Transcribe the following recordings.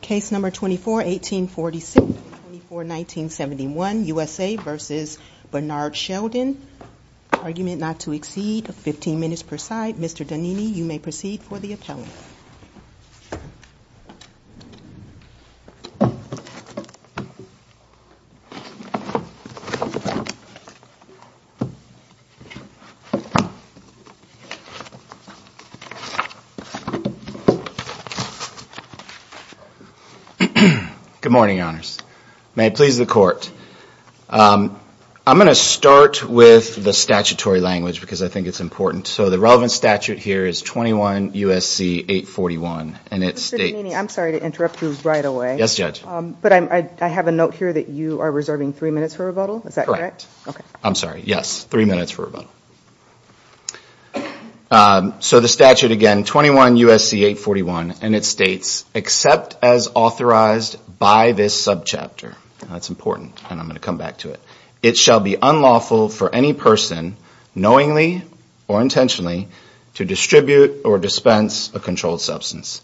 Case No. 24-1846, 24-1971, USA v. Bernard Shelton Argument not to exceed 15 minutes per side. Mr. Donini, you may proceed for the appellant. Good morning, Your Honors. May it please the Court. I'm going to start with the statutory language because I think it's important. So the relevant statute here is 21 U.S.C. 841 and it states... Mr. Donini, I'm sorry to interrupt you right away. Yes, Judge. But I have a note here that you are reserving three minutes for rebuttal. Is that correct? Correct. I'm sorry. Yes, three minutes for rebuttal. So the statute again, 21 U.S.C. 841, and it states, except as authorized by this subchapter. That's important and I'm going to come back to it. It shall be unlawful for any person, knowingly or intentionally, to distribute or dispense a controlled substance.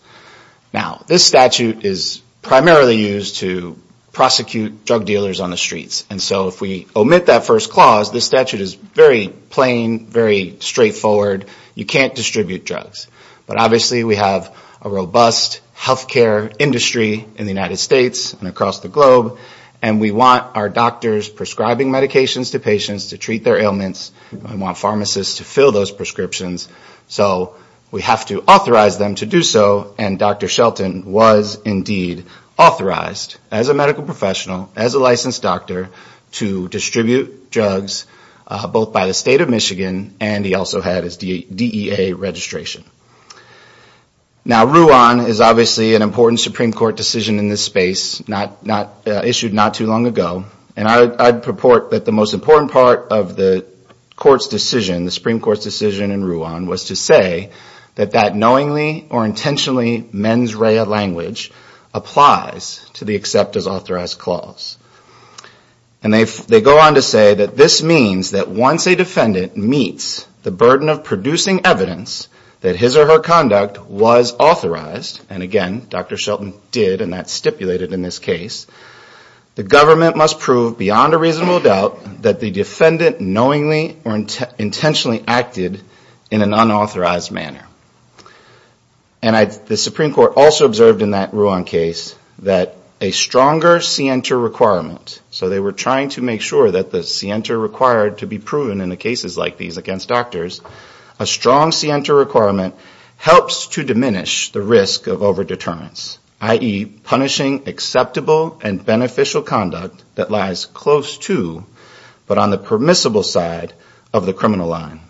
Now, this statute is primarily used to prosecute drug dealers on the streets. And so if we omit that first clause, this statute is very plain and very straightforward. You can't distribute drugs. But obviously we have a robust healthcare industry in the United States and across the globe. And we want our doctors prescribing medications to patients to treat their ailments. We want pharmacists to fill those prescriptions. So we have to authorize them to do so. And Dr. Shelton was indeed authorized, as a medical professional, as a licensed doctor, to distribute drugs, both by the State of Michigan and he also had his DEA registration. Now, RUAN is obviously an important Supreme Court decision in this space, issued not too long ago. And I'd purport that the most important part of the Supreme Court's decision in RUAN was to say that that knowingly or intentionally mens rea language applies to the except as authorized clause. And they go on to say that this means that once a defendant meets the burden of producing evidence that his or her conduct was authorized, and again, Dr. Shelton did and that's stipulated in this case, the government must prove beyond a reasonable doubt that the defendant knowingly or intentionally acted in an unauthorized manner. And the Supreme Court also observed in that RUAN case that a stronger scienter requirement, so they were trying to make sure that the scienter required to be proven in the cases like these against doctors, a strong scienter requirement helps to diminish the risk of over-deterrence, i.e. punishing acceptable and beneficial conduct that lies close to, but on the permissible side of the criminal line.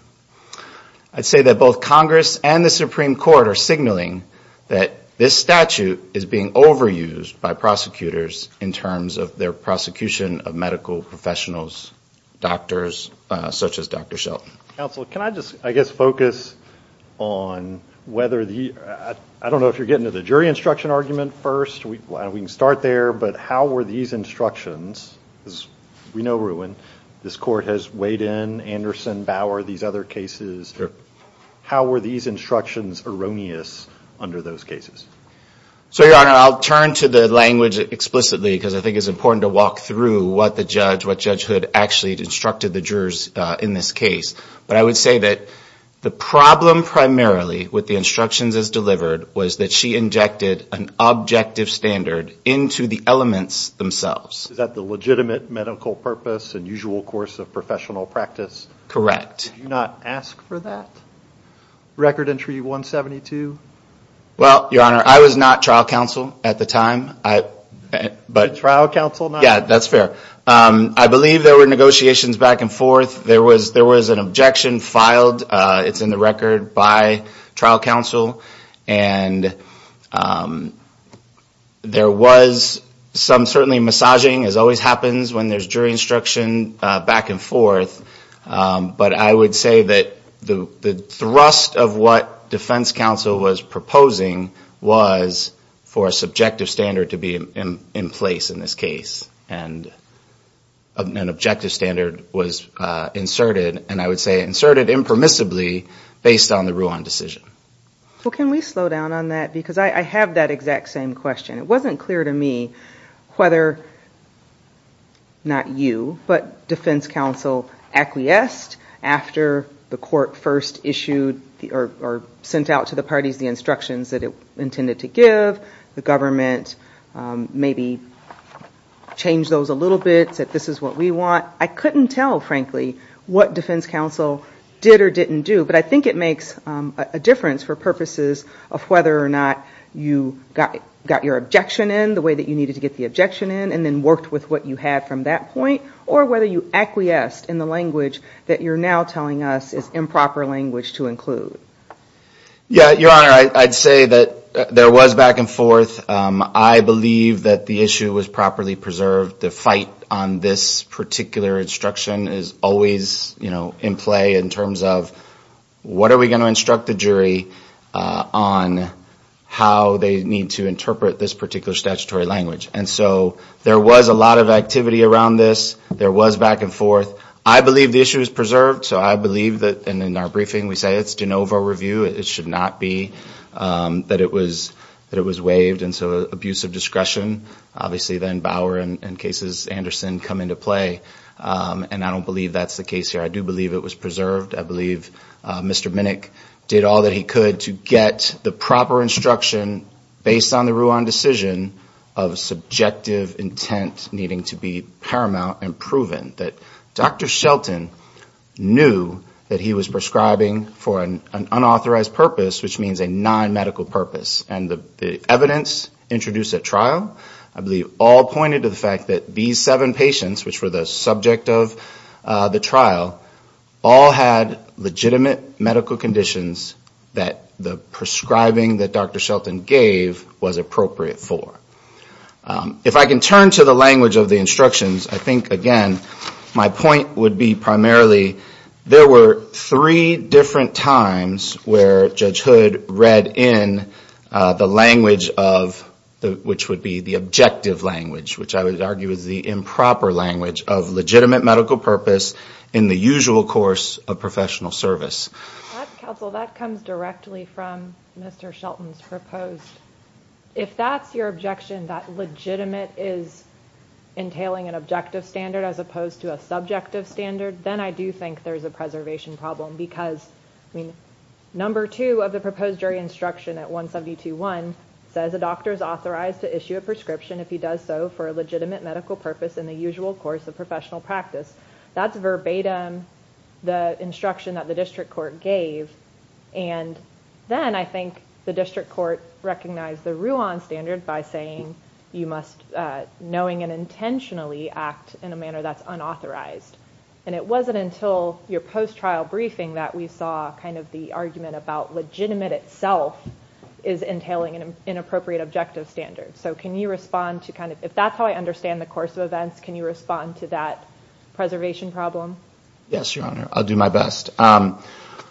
I'd say that both Congress and the Supreme Court are signaling that this statute is being overused by prosecutors in terms of their prosecution of medical professionals, doctors, such as Dr. Shelton. Counsel, can I just, I guess, focus on whether the, I don't know if you're getting to the jury instruction argument first, we can start there, but how were these instructions, we know RUAN, this court has weighed in Anderson, Bauer, these other cases, how were these instructions erroneous under those cases? So, Your Honor, I'll turn to the language explicitly because I think it's important to walk through what the judge, what Judge Hood actually instructed the jurors in this case. But I would say that the problem primarily with the instructions as delivered was that she injected an objective standard into the elements themselves. Is that the legitimate medical purpose and usual course of professional practice? Correct. Did you not ask for that, Record Entry 172? Well, Your Honor, I was not trial counsel at the time. You're trial counsel now? Yeah, that's fair. I believe there were negotiations back and forth. There was an objection filed, it's in the record, by trial counsel. And there was some certainly massaging, as always happens when there's jury instruction back and forth. But I would say that the thrust of what defense counsel was proposing was for a subjective standard to be in place in this case. And an objective standard was inserted, and I would say inserted impermissibly based on the Ruan decision. Well, can we slow down on that? Because I have that exact same question. It wasn't clear to me whether, not you, but defense counsel acquiesced after the court first issued or sent out to the parties the instructions that it intended to give. The government maybe changed those a little bit, said this is what we want. I couldn't tell, frankly, what defense counsel did or didn't do. But I think it makes a difference for purposes of whether or not you got your objection in the way that you needed to get the objection in, and then worked with what you had from that point, or whether you acquiesced in the language that you're now telling us is improper language to include. Yeah, Your Honor, I'd say that there was back and forth. I believe that the issue was properly preserved. The fight on this particular instruction is always, you know, in play in terms of what are we going to instruct the jury on how they need to interpret this particular statutory language. And so there was a lot of activity around this. There was back and forth. I believe the issue is preserved. So I believe that, and in our briefing we say it's de novo review. It should not be that it was waived. And so abuse of discretion. Obviously then Bauer and cases, Anderson, come into play. And I don't believe that's the case here. I do believe it was preserved. I believe Mr. Minnick did all that he could to get the proper instruction based on the Ruan decision of subjective intent needing to be paramount and proven. That Dr. Shelton knew that he was prescribing for an unauthorized purpose, which means a non-medical purpose. And the evidence introduced at trial, I believe all pointed to the fact that B7 patients, which were the subject of the trial, all had legitimate medical conditions that the prescribing that Dr. Shelton gave was appropriate for. If I can turn to the language of the instructions, I think, again, my point would be primarily there were three different times where Judge Hood read in the language of, which would be the objective language, which I would argue is the improper language of legitimate medical purpose in the usual course of professional service. That comes directly from Mr. Shelton's proposed. If that's your objection, that legitimate is entailing an objective standard as opposed to a subjective standard, then I do think there's a preservation problem. Because, I mean, number two of the proposed jury instruction at 172.1 says a doctor is authorized to issue a prescription if he does so for a legitimate medical purpose in the usual course of professional practice. That's verbatim the instruction that the district court gave. And then I think the district court recognized the Ruan standard by saying you must knowing and intentionally act in a manner that's unauthorized. And it wasn't until your post-trial briefing that we saw kind of the argument about legitimate itself is entailing an inappropriate objective standard. So can you respond to kind of, if that's how I understand the course of events, can you respond to that preservation problem? Yes, Your Honor, I'll do my best.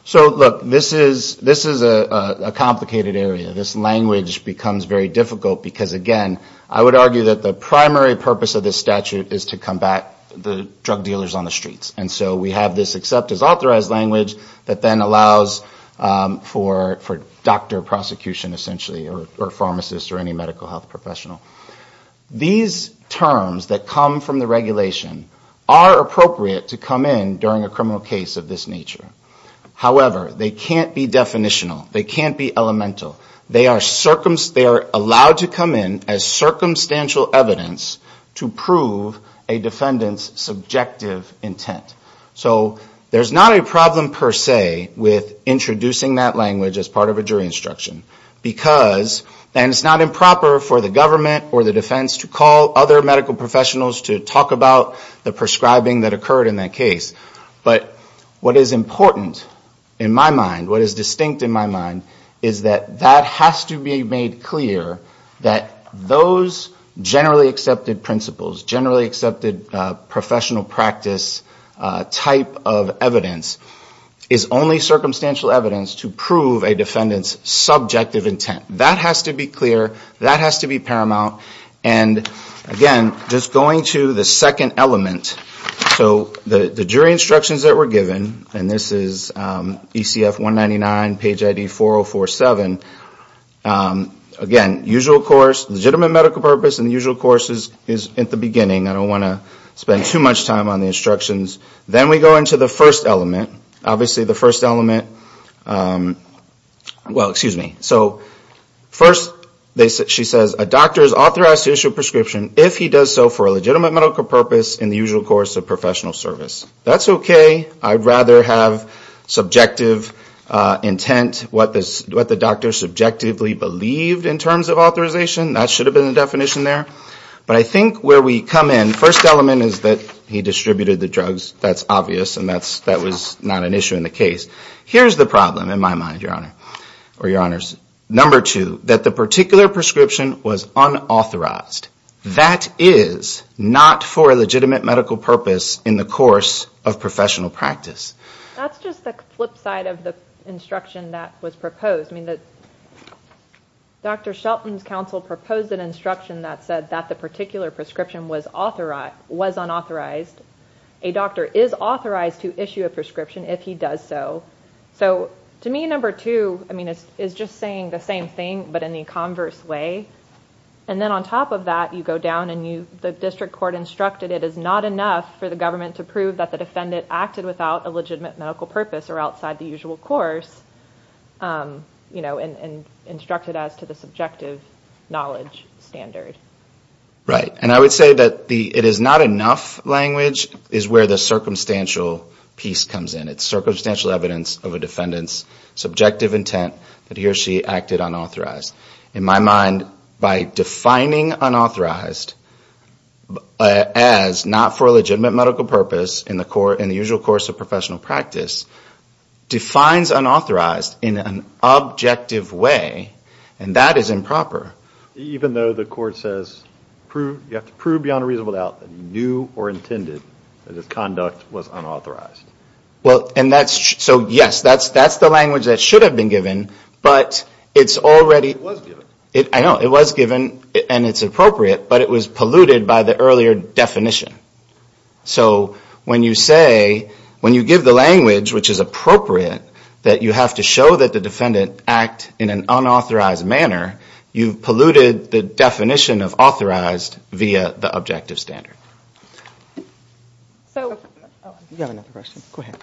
So, look, this is a complicated area. This language becomes very difficult because, again, I would argue that the primary purpose of this statute is to combat the drug dealers on the streets. And so we have this accept as authorized language that then allows for doctor prosecution, essentially, or pharmacist or any medical health professional. These terms that come from the regulation are appropriate to come from the statute. They are allowed to come in during a criminal case of this nature. However, they can't be definitional. They can't be elemental. They are allowed to come in as circumstantial evidence to prove a defendant's subjective intent. So there's not a problem, per se, with introducing that language as part of a jury instruction. Because then it's not improper for the government or the defense to call other medical professionals to talk about the prescribing that occurred in that case. But what is important in my mind, what is distinct in my mind, is that that has to be made clear that those generally accepted principles, generally accepted professional practice type of evidence is only circumstantial evidence to prove a defendant's subjective intent. That has to be clear. That has to be paramount. And again, just going to the second element. So the jury instructions that were given, and this is ECF 199, page ID 4047. Again, usual course, legitimate medical purpose, and the usual course is at the beginning. I don't want to spend too much time on the instructions. Then we go into the first element. Well, excuse me. So first, she says, a doctor is authorized to issue a prescription if he does so for a legitimate medical purpose in the usual course of professional service. That's okay. I'd rather have subjective intent, what the doctor subjectively believed in terms of authorization. That should have been the definition there. But I think where we come in, first element is that he distributed the drugs. That's obvious, and that was not an issue in the case. Here's the problem in my mind, Your Honor. Number two, that the particular prescription was unauthorized. That is not for a legitimate medical purpose in the course of professional practice. That's just the flip side of the instruction that was proposed. I mean, Dr. Shelton's counsel proposed an instruction that said that the particular prescription was unauthorized. A doctor is authorized to issue a prescription if he does so. So to me, number two is just saying the same thing, but in the converse way. And then on top of that, you go down and the district court instructed it is not enough for the government to prove that the defendant acted without a legitimate medical purpose or outside the usual course, and instructed as to the subjective knowledge standard. Right, and I would say that the it is not enough language is where the circumstantial piece comes in. It's circumstantial evidence of a defendant's subjective intent that he or she acted unauthorized. In my mind, by defining unauthorized as not for a legitimate medical purpose in the usual course of professional practice defines unauthorized in an objective way, and that is improper. Even though the court says you have to prove beyond a reasonable doubt that he knew or intended that his conduct was unauthorized. Well, and that's, so yes, that's the language that should have been given, but it's already... It was given. I know, it was given, and it's appropriate, but it was polluted by the earlier definition. So when you say, when you give the language, which is appropriate, that you have to show that the defendant act in an unauthorized manner, you have to prove beyond a reasonable doubt that he or she acted unauthorized. It polluted the definition of authorized via the objective standard. So... You have another question. Go ahead.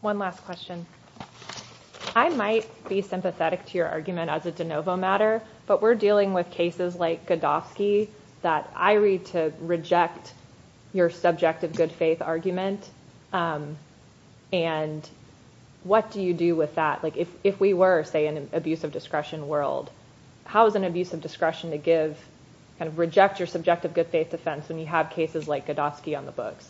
One last question. I might be sympathetic to your argument as a de novo matter, but we're dealing with cases like Godofsky that I read to reject your subjective good faith argument, and what do you do with that? Like, if we were, say, in an abuse of discretion world, how is an abuse of discretion to give, kind of reject your subjective good faith defense when you have cases like Godofsky on the books?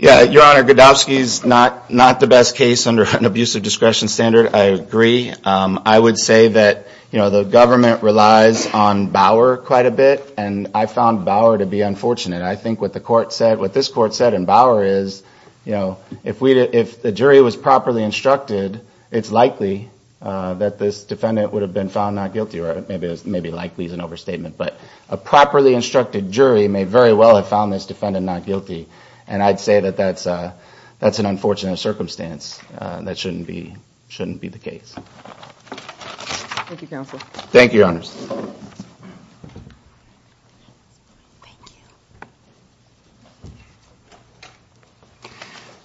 Yeah, your honor, Godofsky is not the best case under an abuse of discretion standard. I agree. I would say that, you know, the government relies on Bauer quite a bit, and I found Bauer to be unfortunate. I think what the court said, what this court said in Bauer is, you know, if the jury was properly instructed, if the jury was properly instructed, it's likely that this defendant would have been found not guilty, or maybe likely is an overstatement. But a properly instructed jury may very well have found this defendant not guilty, and I'd say that that's an unfortunate circumstance. That shouldn't be the case. Thank you, counsel. Thank you, your honors. Thank you.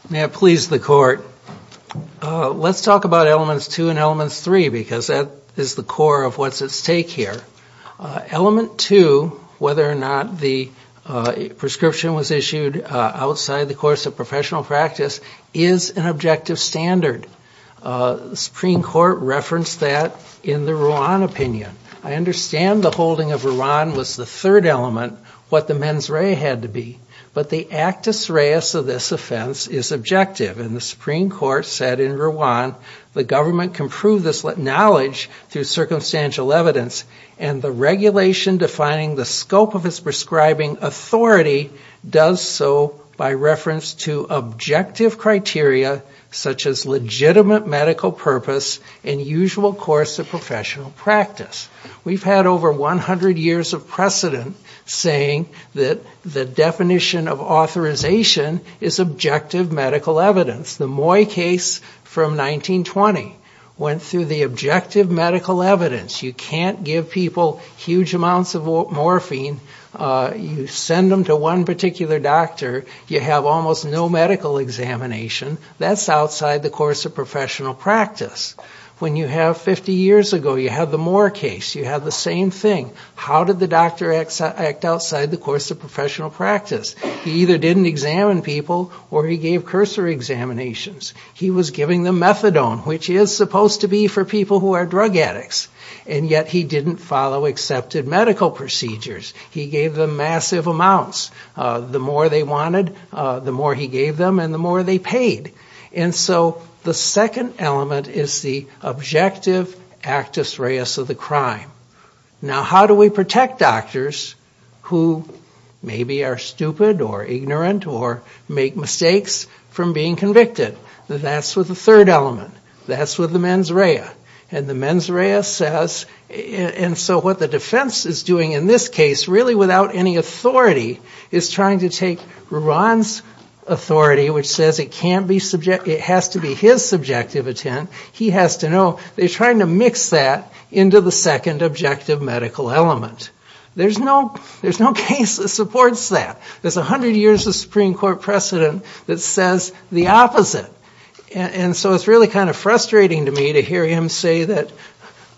May I please the court? Let's talk about elements two and elements three, because that is the core of what's at stake here. Element two, whether or not the prescription was issued outside the course of professional practice, is an objective standard. The Supreme Court referenced that in the Ruan opinion. I understand the holding of Ruan was the third element. What the mens rea had to be, but the actus reus of this offense is objective. And the Supreme Court said in Ruan, the government can prove this knowledge through circumstantial evidence, and the regulation defining the scope of its prescribing authority does so by reference to objective criteria, such as legitimate medical purpose and usual course of professional practice. We've had over 100 years of precedent saying that the definition of authorization is objective medical evidence. The Moy case from 1920 went through the objective medical evidence. You can't give people huge amounts of morphine. You send them to one particular doctor. You have almost no medical examination. That's outside the course of professional practice. When you have 50 years ago, you have the Moore case, you have the same thing. How did the doctor act outside the course of professional practice? He either didn't examine people or he gave cursor examinations. He was giving them methadone, which is supposed to be for people who are drug addicts. And yet he didn't follow accepted medical procedures. He gave them massive amounts. The more they wanted, the more he gave them, and the more they paid. And so the second element is the objective actus reus of the crime. Now, how do we protect doctors who maybe are stupid or ignorant or make mistakes from being convicted? That's with the third element. That's with the mens rea. And the mens rea says... And so what the defense is doing in this case, really without any authority, is trying to take Ruan's authority, which says it has to be his subjective intent. He has to know they're trying to mix that into the second objective medical element. There's no case that supports that. There's 100 years of Supreme Court precedent that says the opposite. And so it's really kind of frustrating to me to hear him say that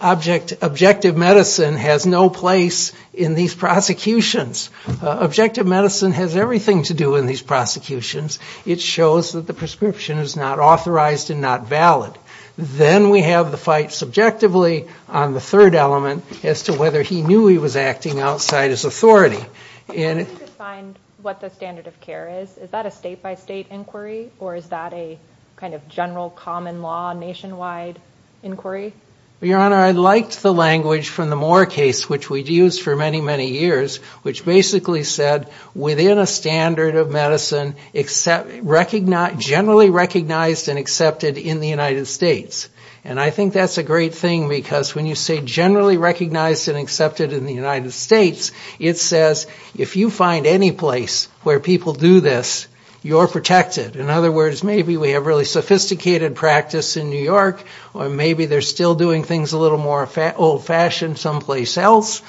objective medicine has no place in these prosecutions. Objective medicine has everything to do in these prosecutions. It shows that the prescription is not authorized and not valid. Then we have the fight subjectively on the third element as to whether he knew he was acting outside his authority. And... Can you define what the standard of care is? Is that a state-by-state inquiry, or is that a kind of general common law nationwide inquiry? Your Honor, I liked the language from the Moore case, which we'd used for many, many years, which basically said, within a standard of medicine, generally recognized and accepted in the United States. And I think that's a great thing, because when you say generally recognized and accepted in the United States, it says, if you find any place where people do this, you're protected. In other words, maybe we have really sophisticated practice in New York, or maybe they're still doing things a little more old-fashioned someplace else.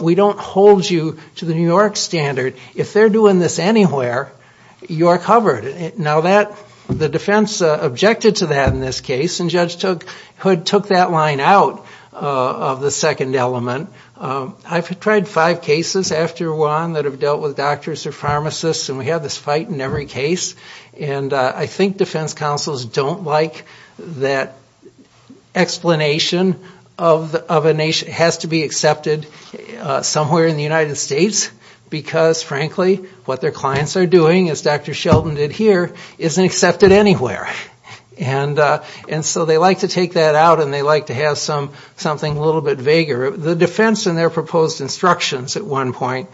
We don't hold you to the New York standard. If they're doing this anywhere, you're covered. Now, the defense objected to that in this case, and Judge Hood took that line out of the second element. I've tried five cases after Juan that have dealt with doctors or pharmacists, and we have this fight in every case. And I think defense counsels don't like that explanation of a nation that has to be accepted somewhere in the United States, because, frankly, what their clients are doing, as Dr. Sheldon did here, isn't accepted anywhere. And so they like to take that out, and they like to have something a little bit vaguer. The defense, in their proposed instructions at one point,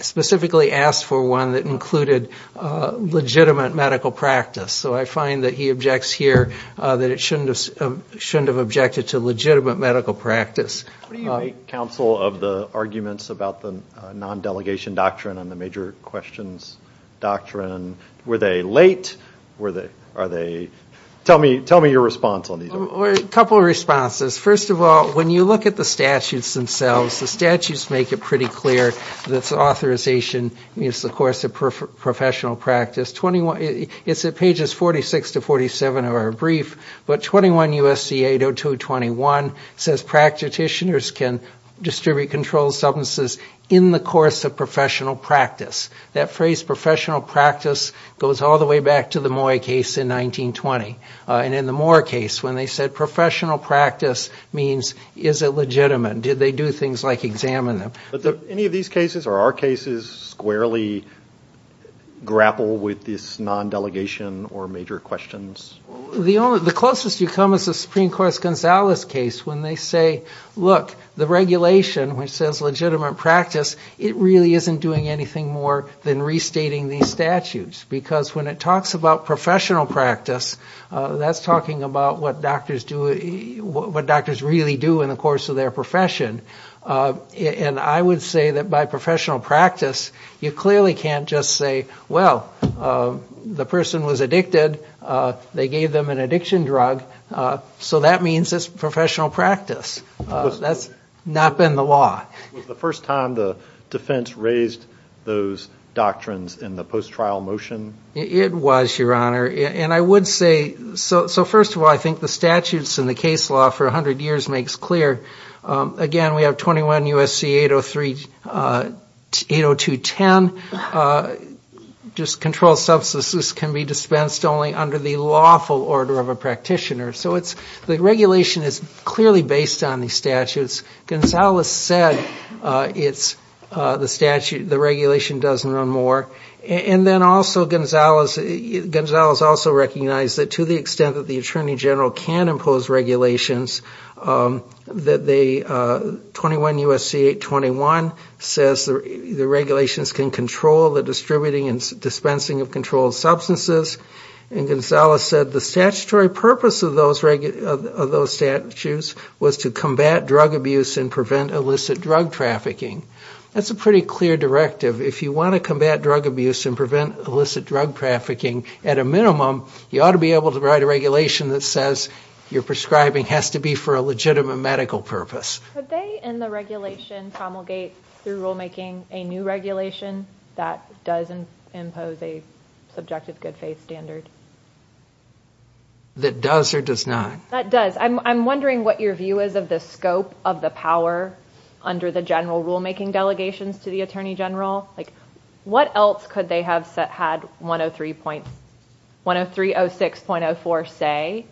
specifically asked for one that included legitimate medical practice. So I find that he objects here that it shouldn't have objected to legitimate medical practice. What do you make, counsel, of the arguments about the non-delegation doctrine and the major questions doctrine? Were they late? Tell me your response on these. A couple of responses. First of all, when you look at the statutes themselves, the statutes make it pretty clear that authorization is, of course, a professional practice. It's at pages 46 to 47 of our brief, but 21 U.S.C. 80221 says practitioners can distribute controlled substances in the course of professional practice. That phrase, professional practice, goes all the way back to the Moy case in 1920. And in the Moore case, when they said professional practice means, is it legitimate? Did they do things like examine them? Did any of these cases or our cases squarely grapple with this non-delegation or major questions? The closest you come is the Supreme Court's Gonzalez case when they say, look, the regulation, which says legitimate practice, it really isn't doing anything more than restating these statutes because when it talks about professional practice, that's talking about what doctors really do in the course of their profession. And I would say that by professional practice, you clearly can't just say, well, the person was addicted, they gave them an addiction drug, so that means it's professional practice. That's not been the law. Was the first time the defense raised those doctrines in the post-trial motion? It was, Your Honor. And I would say, so first of all, I think the statutes in the case law for 100 years makes clear. Again, we have 21 U.S.C. 80210, just control substances can be dispensed only under the lawful order of a practitioner. So the regulation is clearly based on these statutes. Gonzalez said the regulation doesn't run more. And then also Gonzalez also recognized that to the extent that the attorney general can impose regulations, 21 U.S.C. 821 says the regulations can control the distributing and dispensing of controlled substances. And Gonzalez said the statutory purpose of those statutes was to combat drug abuse and prevent illicit drug trafficking. That's a pretty clear directive. If you want to combat drug abuse and prevent illicit drug trafficking at a minimum, you ought to be able to write a regulation that says your prescribing has to be for a legitimate medical purpose. Could they in the regulation promulgate through rulemaking a new regulation that does impose a subjective good faith standard? That does or does not? That does. I'm wondering what your view is of the scope of the power under the general rulemaking delegations to the attorney general. What else could they have had 103.06.04 say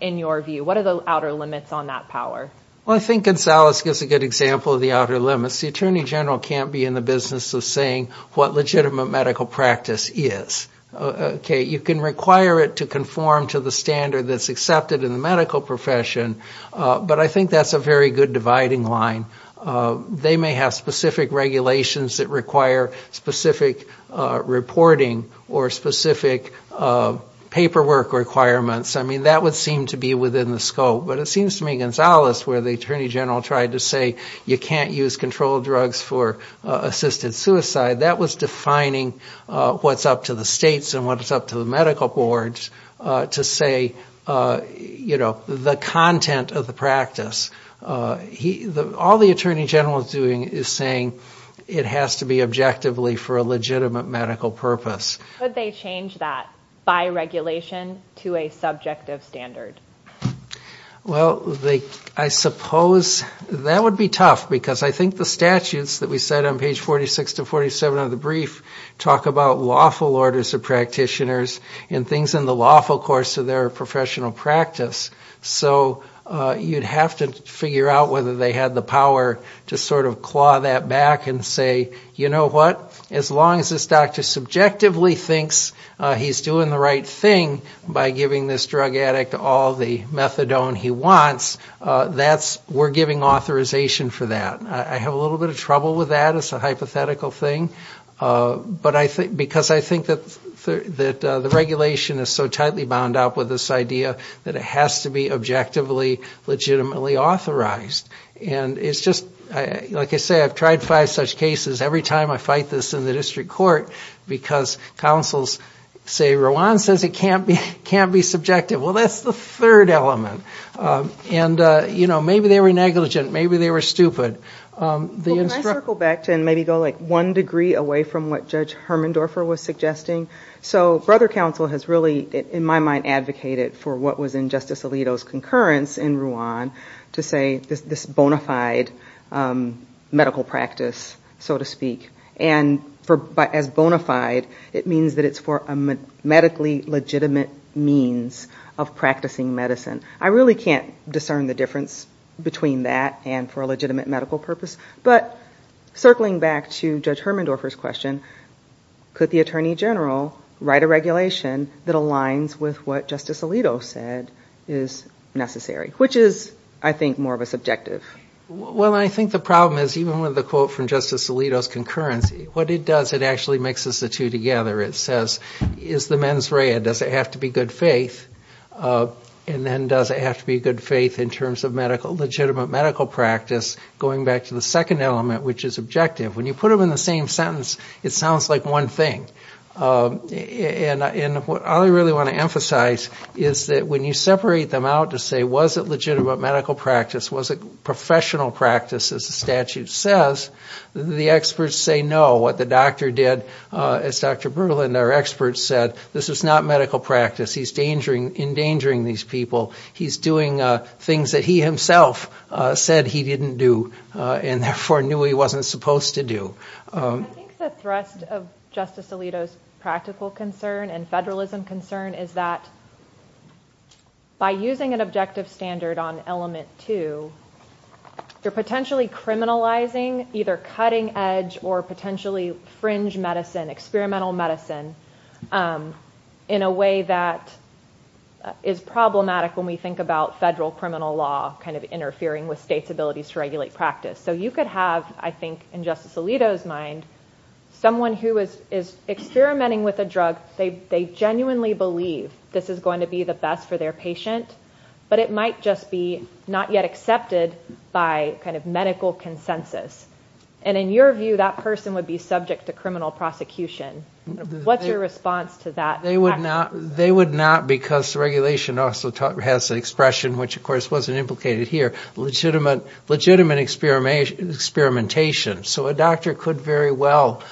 in your view? What are the outer limits on that power? I think Gonzalez gives a good example of the outer limits. The attorney general can't be in the business of saying what legitimate medical practice is. You can require it to conform to the standard that's accepted in the medical profession, but I think that's a very good dividing line. They may have specific regulations that require specific reporting or specific paperwork requirements. That would seem to be within the scope. But it seems to me Gonzalez, where the attorney general tried to say you can't use controlled drugs for assisted suicide, that was defining what's up to the states and what's up to the medical boards to say the content of the practice. All the attorney general is doing is saying it has to be objectively for a legitimate medical purpose. Could they change that by regulation to a subjective standard? Well, I suppose that would be tough because I think the statutes that we said on page 46 to 47 of the brief talk about lawful orders of practitioners and things in the lawful course of their professional practice. So you'd have to figure out whether they had the power to sort of claw that back and say, you know what, as long as this doctor subjectively thinks he's doing the right thing by giving this drug addict all the methadone he wants, we're giving authorization for that. I have a little bit of trouble with that as a hypothetical thing because I think that the regulation is so tightly bound up with this idea that it has to be objectively, legitimately authorized. And it's just, like I say, I've tried five such cases, every time I fight this in the district court, because counsels say, Rowan says it can't be subjective. Well, that's the third element. And, you know, maybe they were negligent, maybe they were stupid. The instructor... Well, can I circle back and maybe go like one degree away from what Judge Hermendorfer was suggesting? So Brother Counsel has really, in my mind, advocated for what was in Justice Alito's concurrence in Rowan to say this bona fide medical practice, so to speak. And as bona fide, it means that it's for a medically legitimate means of practicing medicine. I really can't discern the difference between that and for a legitimate medical purpose. But circling back to Judge Hermendorfer's question, could the Attorney General write a regulation that aligns with what Justice Alito said is necessary? Which is, I think, more of a subjective. Well, I think the problem is, even with the quote from Justice Alito's concurrence, what it does, it actually mixes the two together. It says, is the mens rea, does it have to be good faith? And then does it have to be good faith in terms of legitimate medical practice, going back to the second element, which is objective. When you put them in the same sentence, it sounds like one thing. And all I really want to emphasize is that when you separate them out to say, was it legitimate medical practice, was it professional practice, as the statute says, the experts say no. What the doctor did, as Dr. Berlin, our expert, said, this is not medical practice. He's endangering these people. He's doing things that he himself said he didn't do and therefore knew he wasn't supposed to do. I think the thrust of Justice Alito's practical concern and federalism concern is that by using an objective standard on element two, you're potentially criminalizing either cutting edge or potentially fringe medicine, experimental medicine in a way that is problematic when we think about federal criminal law interfering with states' abilities to regulate practice. So you could have, I think, in Justice Alito's mind, someone who is experimenting with a drug, they genuinely believe this is going to be the best for their patient, but it might just be not yet accepted by medical consensus. And in your view, that person would be subject to criminal prosecution. What's your response to that? They would not because the regulation also has the expression, which of course wasn't implicated here, legitimate experimentation. So a doctor could very well,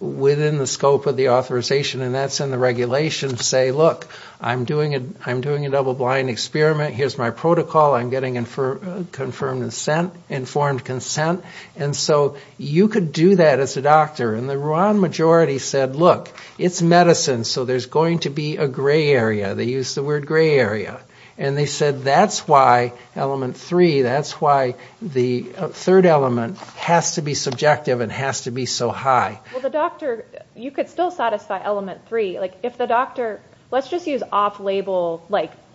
within the scope of the authorization, and that's in the regulation, say, look, I'm doing a double-blind experiment. Here's my protocol. I'm getting informed consent. And so you could do that as a doctor. And the Rwandan majority said, look, it's medicine, so there's going to be a gray area. They used the word gray area. And they said that's why element three, that's why the third element has to be subjective and has to be so high. You could still satisfy element three. Let's just use off-label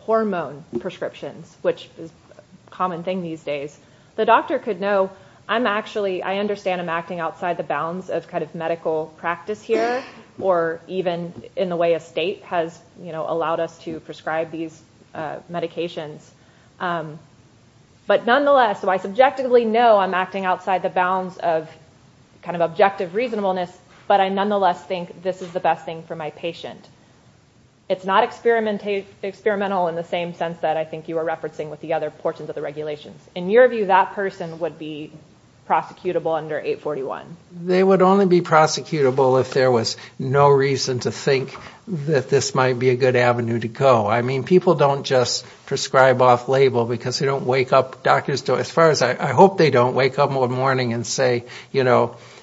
hormone prescriptions, which is a common thing these days. The doctor could know, I understand I'm acting outside the bounds of medical practice here, or even in the way a state has allowed us to prescribe these medications. But nonetheless, so I subjectively know I'm acting outside the bounds of objective reasonableness, but I nonetheless think this is the best thing for my patient. It's not experimental in the same sense that I think you were referencing with the other portions of the regulations. In your view, that person would be prosecutable under 841? They would only be prosecutable if there was no reason to think that this might be a good avenue to go. I mean, people don't just prescribe off-label because they don't wake up. I hope they don't wake up one morning and say,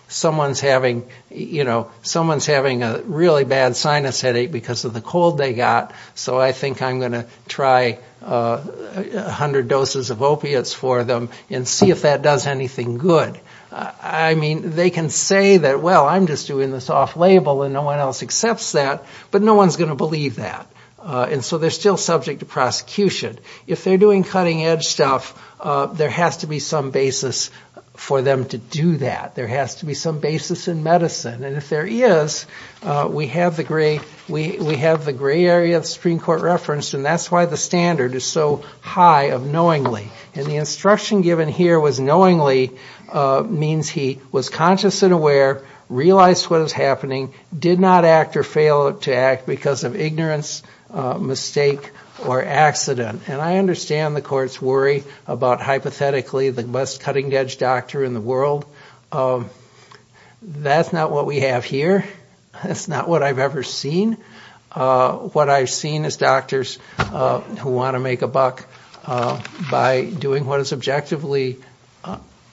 someone's having a really bad sinus headache because of the cold they got, so I think I'm going to try 100 doses of opiates for them and see if that does anything good. I mean, they can say that, well, I'm just doing this off-label and no one else accepts that, but no one's going to believe that. And so they're still subject to prosecution. If they're doing cutting-edge stuff, there has to be some basis for them to do that. There has to be some basis in medicine. And if there is, we have the gray area of the Supreme Court referenced, and that's why the standard is so high of knowingly. And the instruction given here with knowingly means he was conscious and aware, realized what was happening, did not act or fail to act because of ignorance, mistake, or accident. And I understand the Court's worry about hypothetically the best cutting-edge doctor in the world. That's not what we have here. That's not what I've ever seen. What I've seen is doctors who want to make a buck by doing what is objectively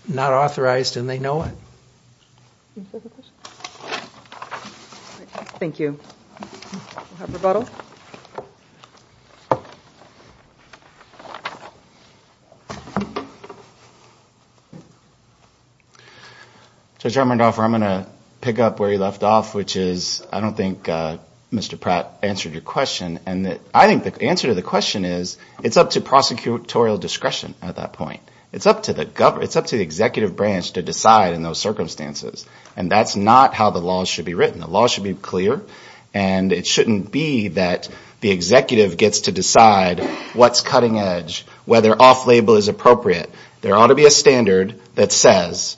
not authorized, and they know it. Thank you. Judge Armendaroff, I'm going to pick up where you left off, which is I don't think Mr. Pratt answered your question. I think the answer to the question is it's up to prosecutorial discretion at that point. It's up to the executive branch to decide in those circumstances. And that's not how the law should be written. The law should be clear, and it shouldn't be that the executive gets to decide what's cutting-edge, whether off-label is appropriate. There ought to be a standard that says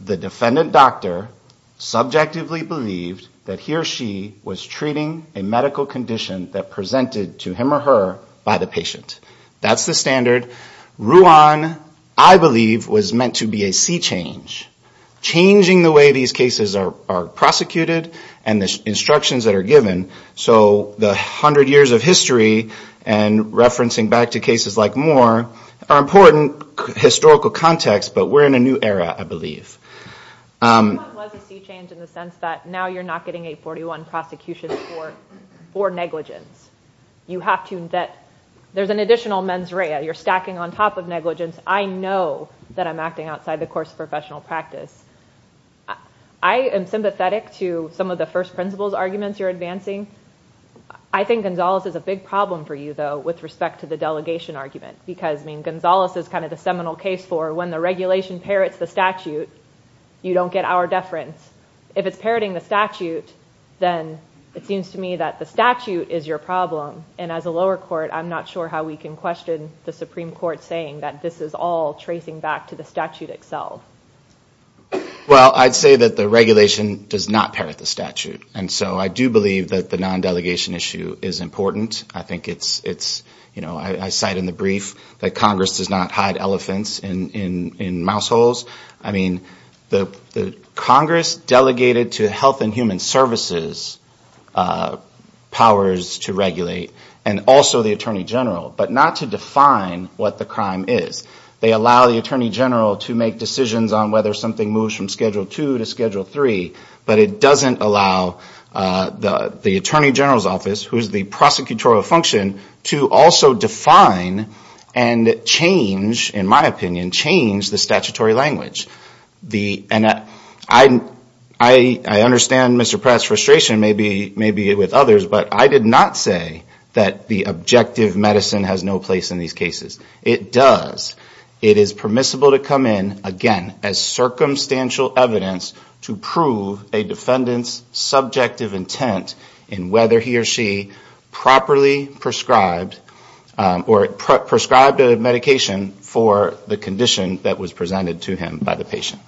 the defendant doctor subjectively believed that he or she was treating a medical condition that presented to him or her by the patient. That's the standard. Ruan, I believe, was meant to be a sea change, changing the way these cases are prosecuted and the instructions that are given. So the 100 years of history, and referencing back to cases like Moore, are important historical contexts, but we're in a new era, I believe. It was a sea change in the sense that now you're not getting a 41 prosecution for negligence. There's an additional mens rea. You're stacking on top of negligence. I know that I'm acting outside the course of professional practice. I am sympathetic to some of the first principles arguments you're advancing. I think Gonzalez is a big problem for you, though, with respect to the delegation argument. Gonzalez is the seminal case for when the regulation parrots the statute, you don't get our deference. If it's parroting the statute, then it seems to me that the statute is your problem. As a lower court, I'm not sure how we can question the Supreme Court saying that this is all tracing back to the statute itself. Well, I'd say that the regulation does not parrot the statute. And so I do believe that the non-delegation issue is important. I think it's, you know, I cite in the brief that Congress does not hide elephants in mouse holes. I mean, the Congress delegated to Health and Human Services powers to regulate, and also the Attorney General, but not to define what the crime is. They allow the Attorney General to make decisions on whether something moves from Schedule 2 to Schedule 3, but it doesn't allow the Attorney General's office, who is the prosecutorial function, to also define and change, in my opinion, change the statutory language. I understand Mr. Pratt's frustration maybe with others, but I did not say that the objective medicine has no place in these cases. It does. It is permissible to come in, again, as circumstantial evidence to prove a defendant's subjective intent in whether he or she properly prescribed or prescribed a medication for the condition that was presented to him by the patient.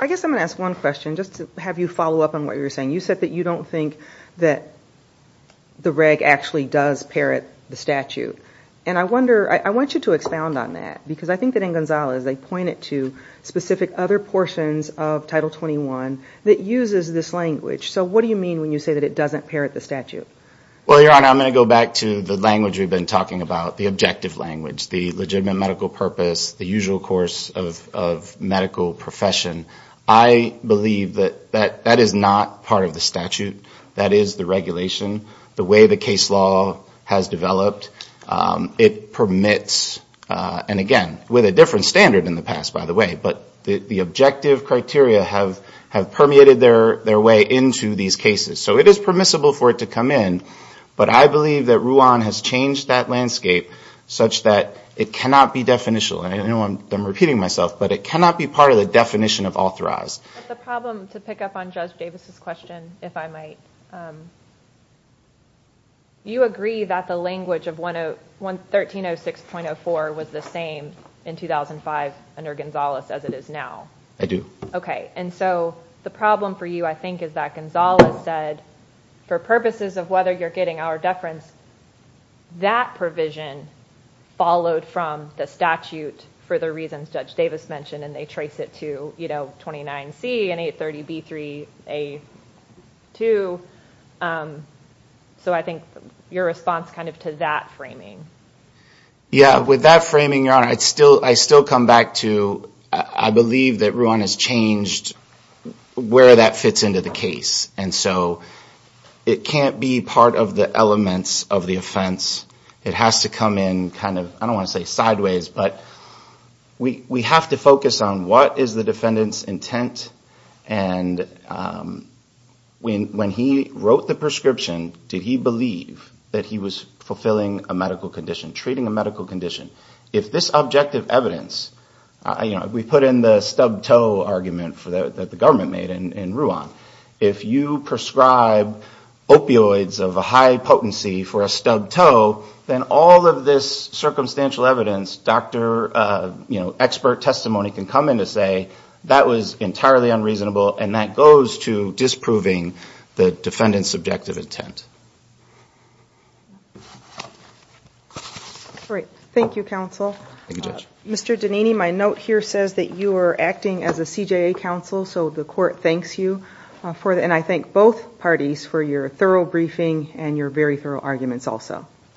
I guess I'm going to ask one question, just to have you follow up on what you were saying. You said that you don't think that the reg actually does parrot the statute. I want you to expound on that, because I think that in Gonzalez they point it to specific other portions of Title 21 that uses this language. So what do you mean when you say that it doesn't parrot the statute? Well, Your Honor, I'm going to go back to the language we've been talking about, the objective language, the legitimate medical purpose, the usual course of medical profession. I believe that that is not part of the statute. That is the regulation. The way the case law has developed, it permits, and again, with a different standard in the past, by the way, but the objective criteria have permeated their way into these cases. So it is permissible for it to come in, but I believe that Ruan has changed that landscape such that it cannot be definitional. And I know I'm repeating myself, but it cannot be part of the definition of authorized. The problem, to pick up on Judge Davis' question, if I might, you agree that the language of 1306.04 was the same in 2005 under Gonzalez as it is now? I do. And so the problem for you, I think, is that Gonzalez said for purposes of whether you're getting our deference, that provision followed from the statute for the reasons Judge Davis mentioned and they trace it to 29C and 830B3A2. So I think your response kind of to that framing. Yeah, with that framing, Your Honor, I still come back to, I believe that Ruan has changed where that fits into the case. And so it can't be part of the elements of the offense. It has to come in kind of, I don't want to say sideways, but we have to focus on what is the defendant's intent and when he wrote the prescription, did he believe that he was fulfilling a medical condition, treating a medical condition? If this objective evidence, we put in the stubbed toe argument that the government made in Ruan, if you prescribe opioids of a high potency for a stubbed toe, then all of this circumstantial evidence, expert testimony can come in to say that was entirely unreasonable and that goes to disproving the defendant's subjective intent. Great. Thank you, Counsel. Thank you, Judge. Mr. Danini, my note here says that you are acting as a CJA counsel, so the court thanks you. And I thank both parties for your thorough briefing and your very thorough arguments also.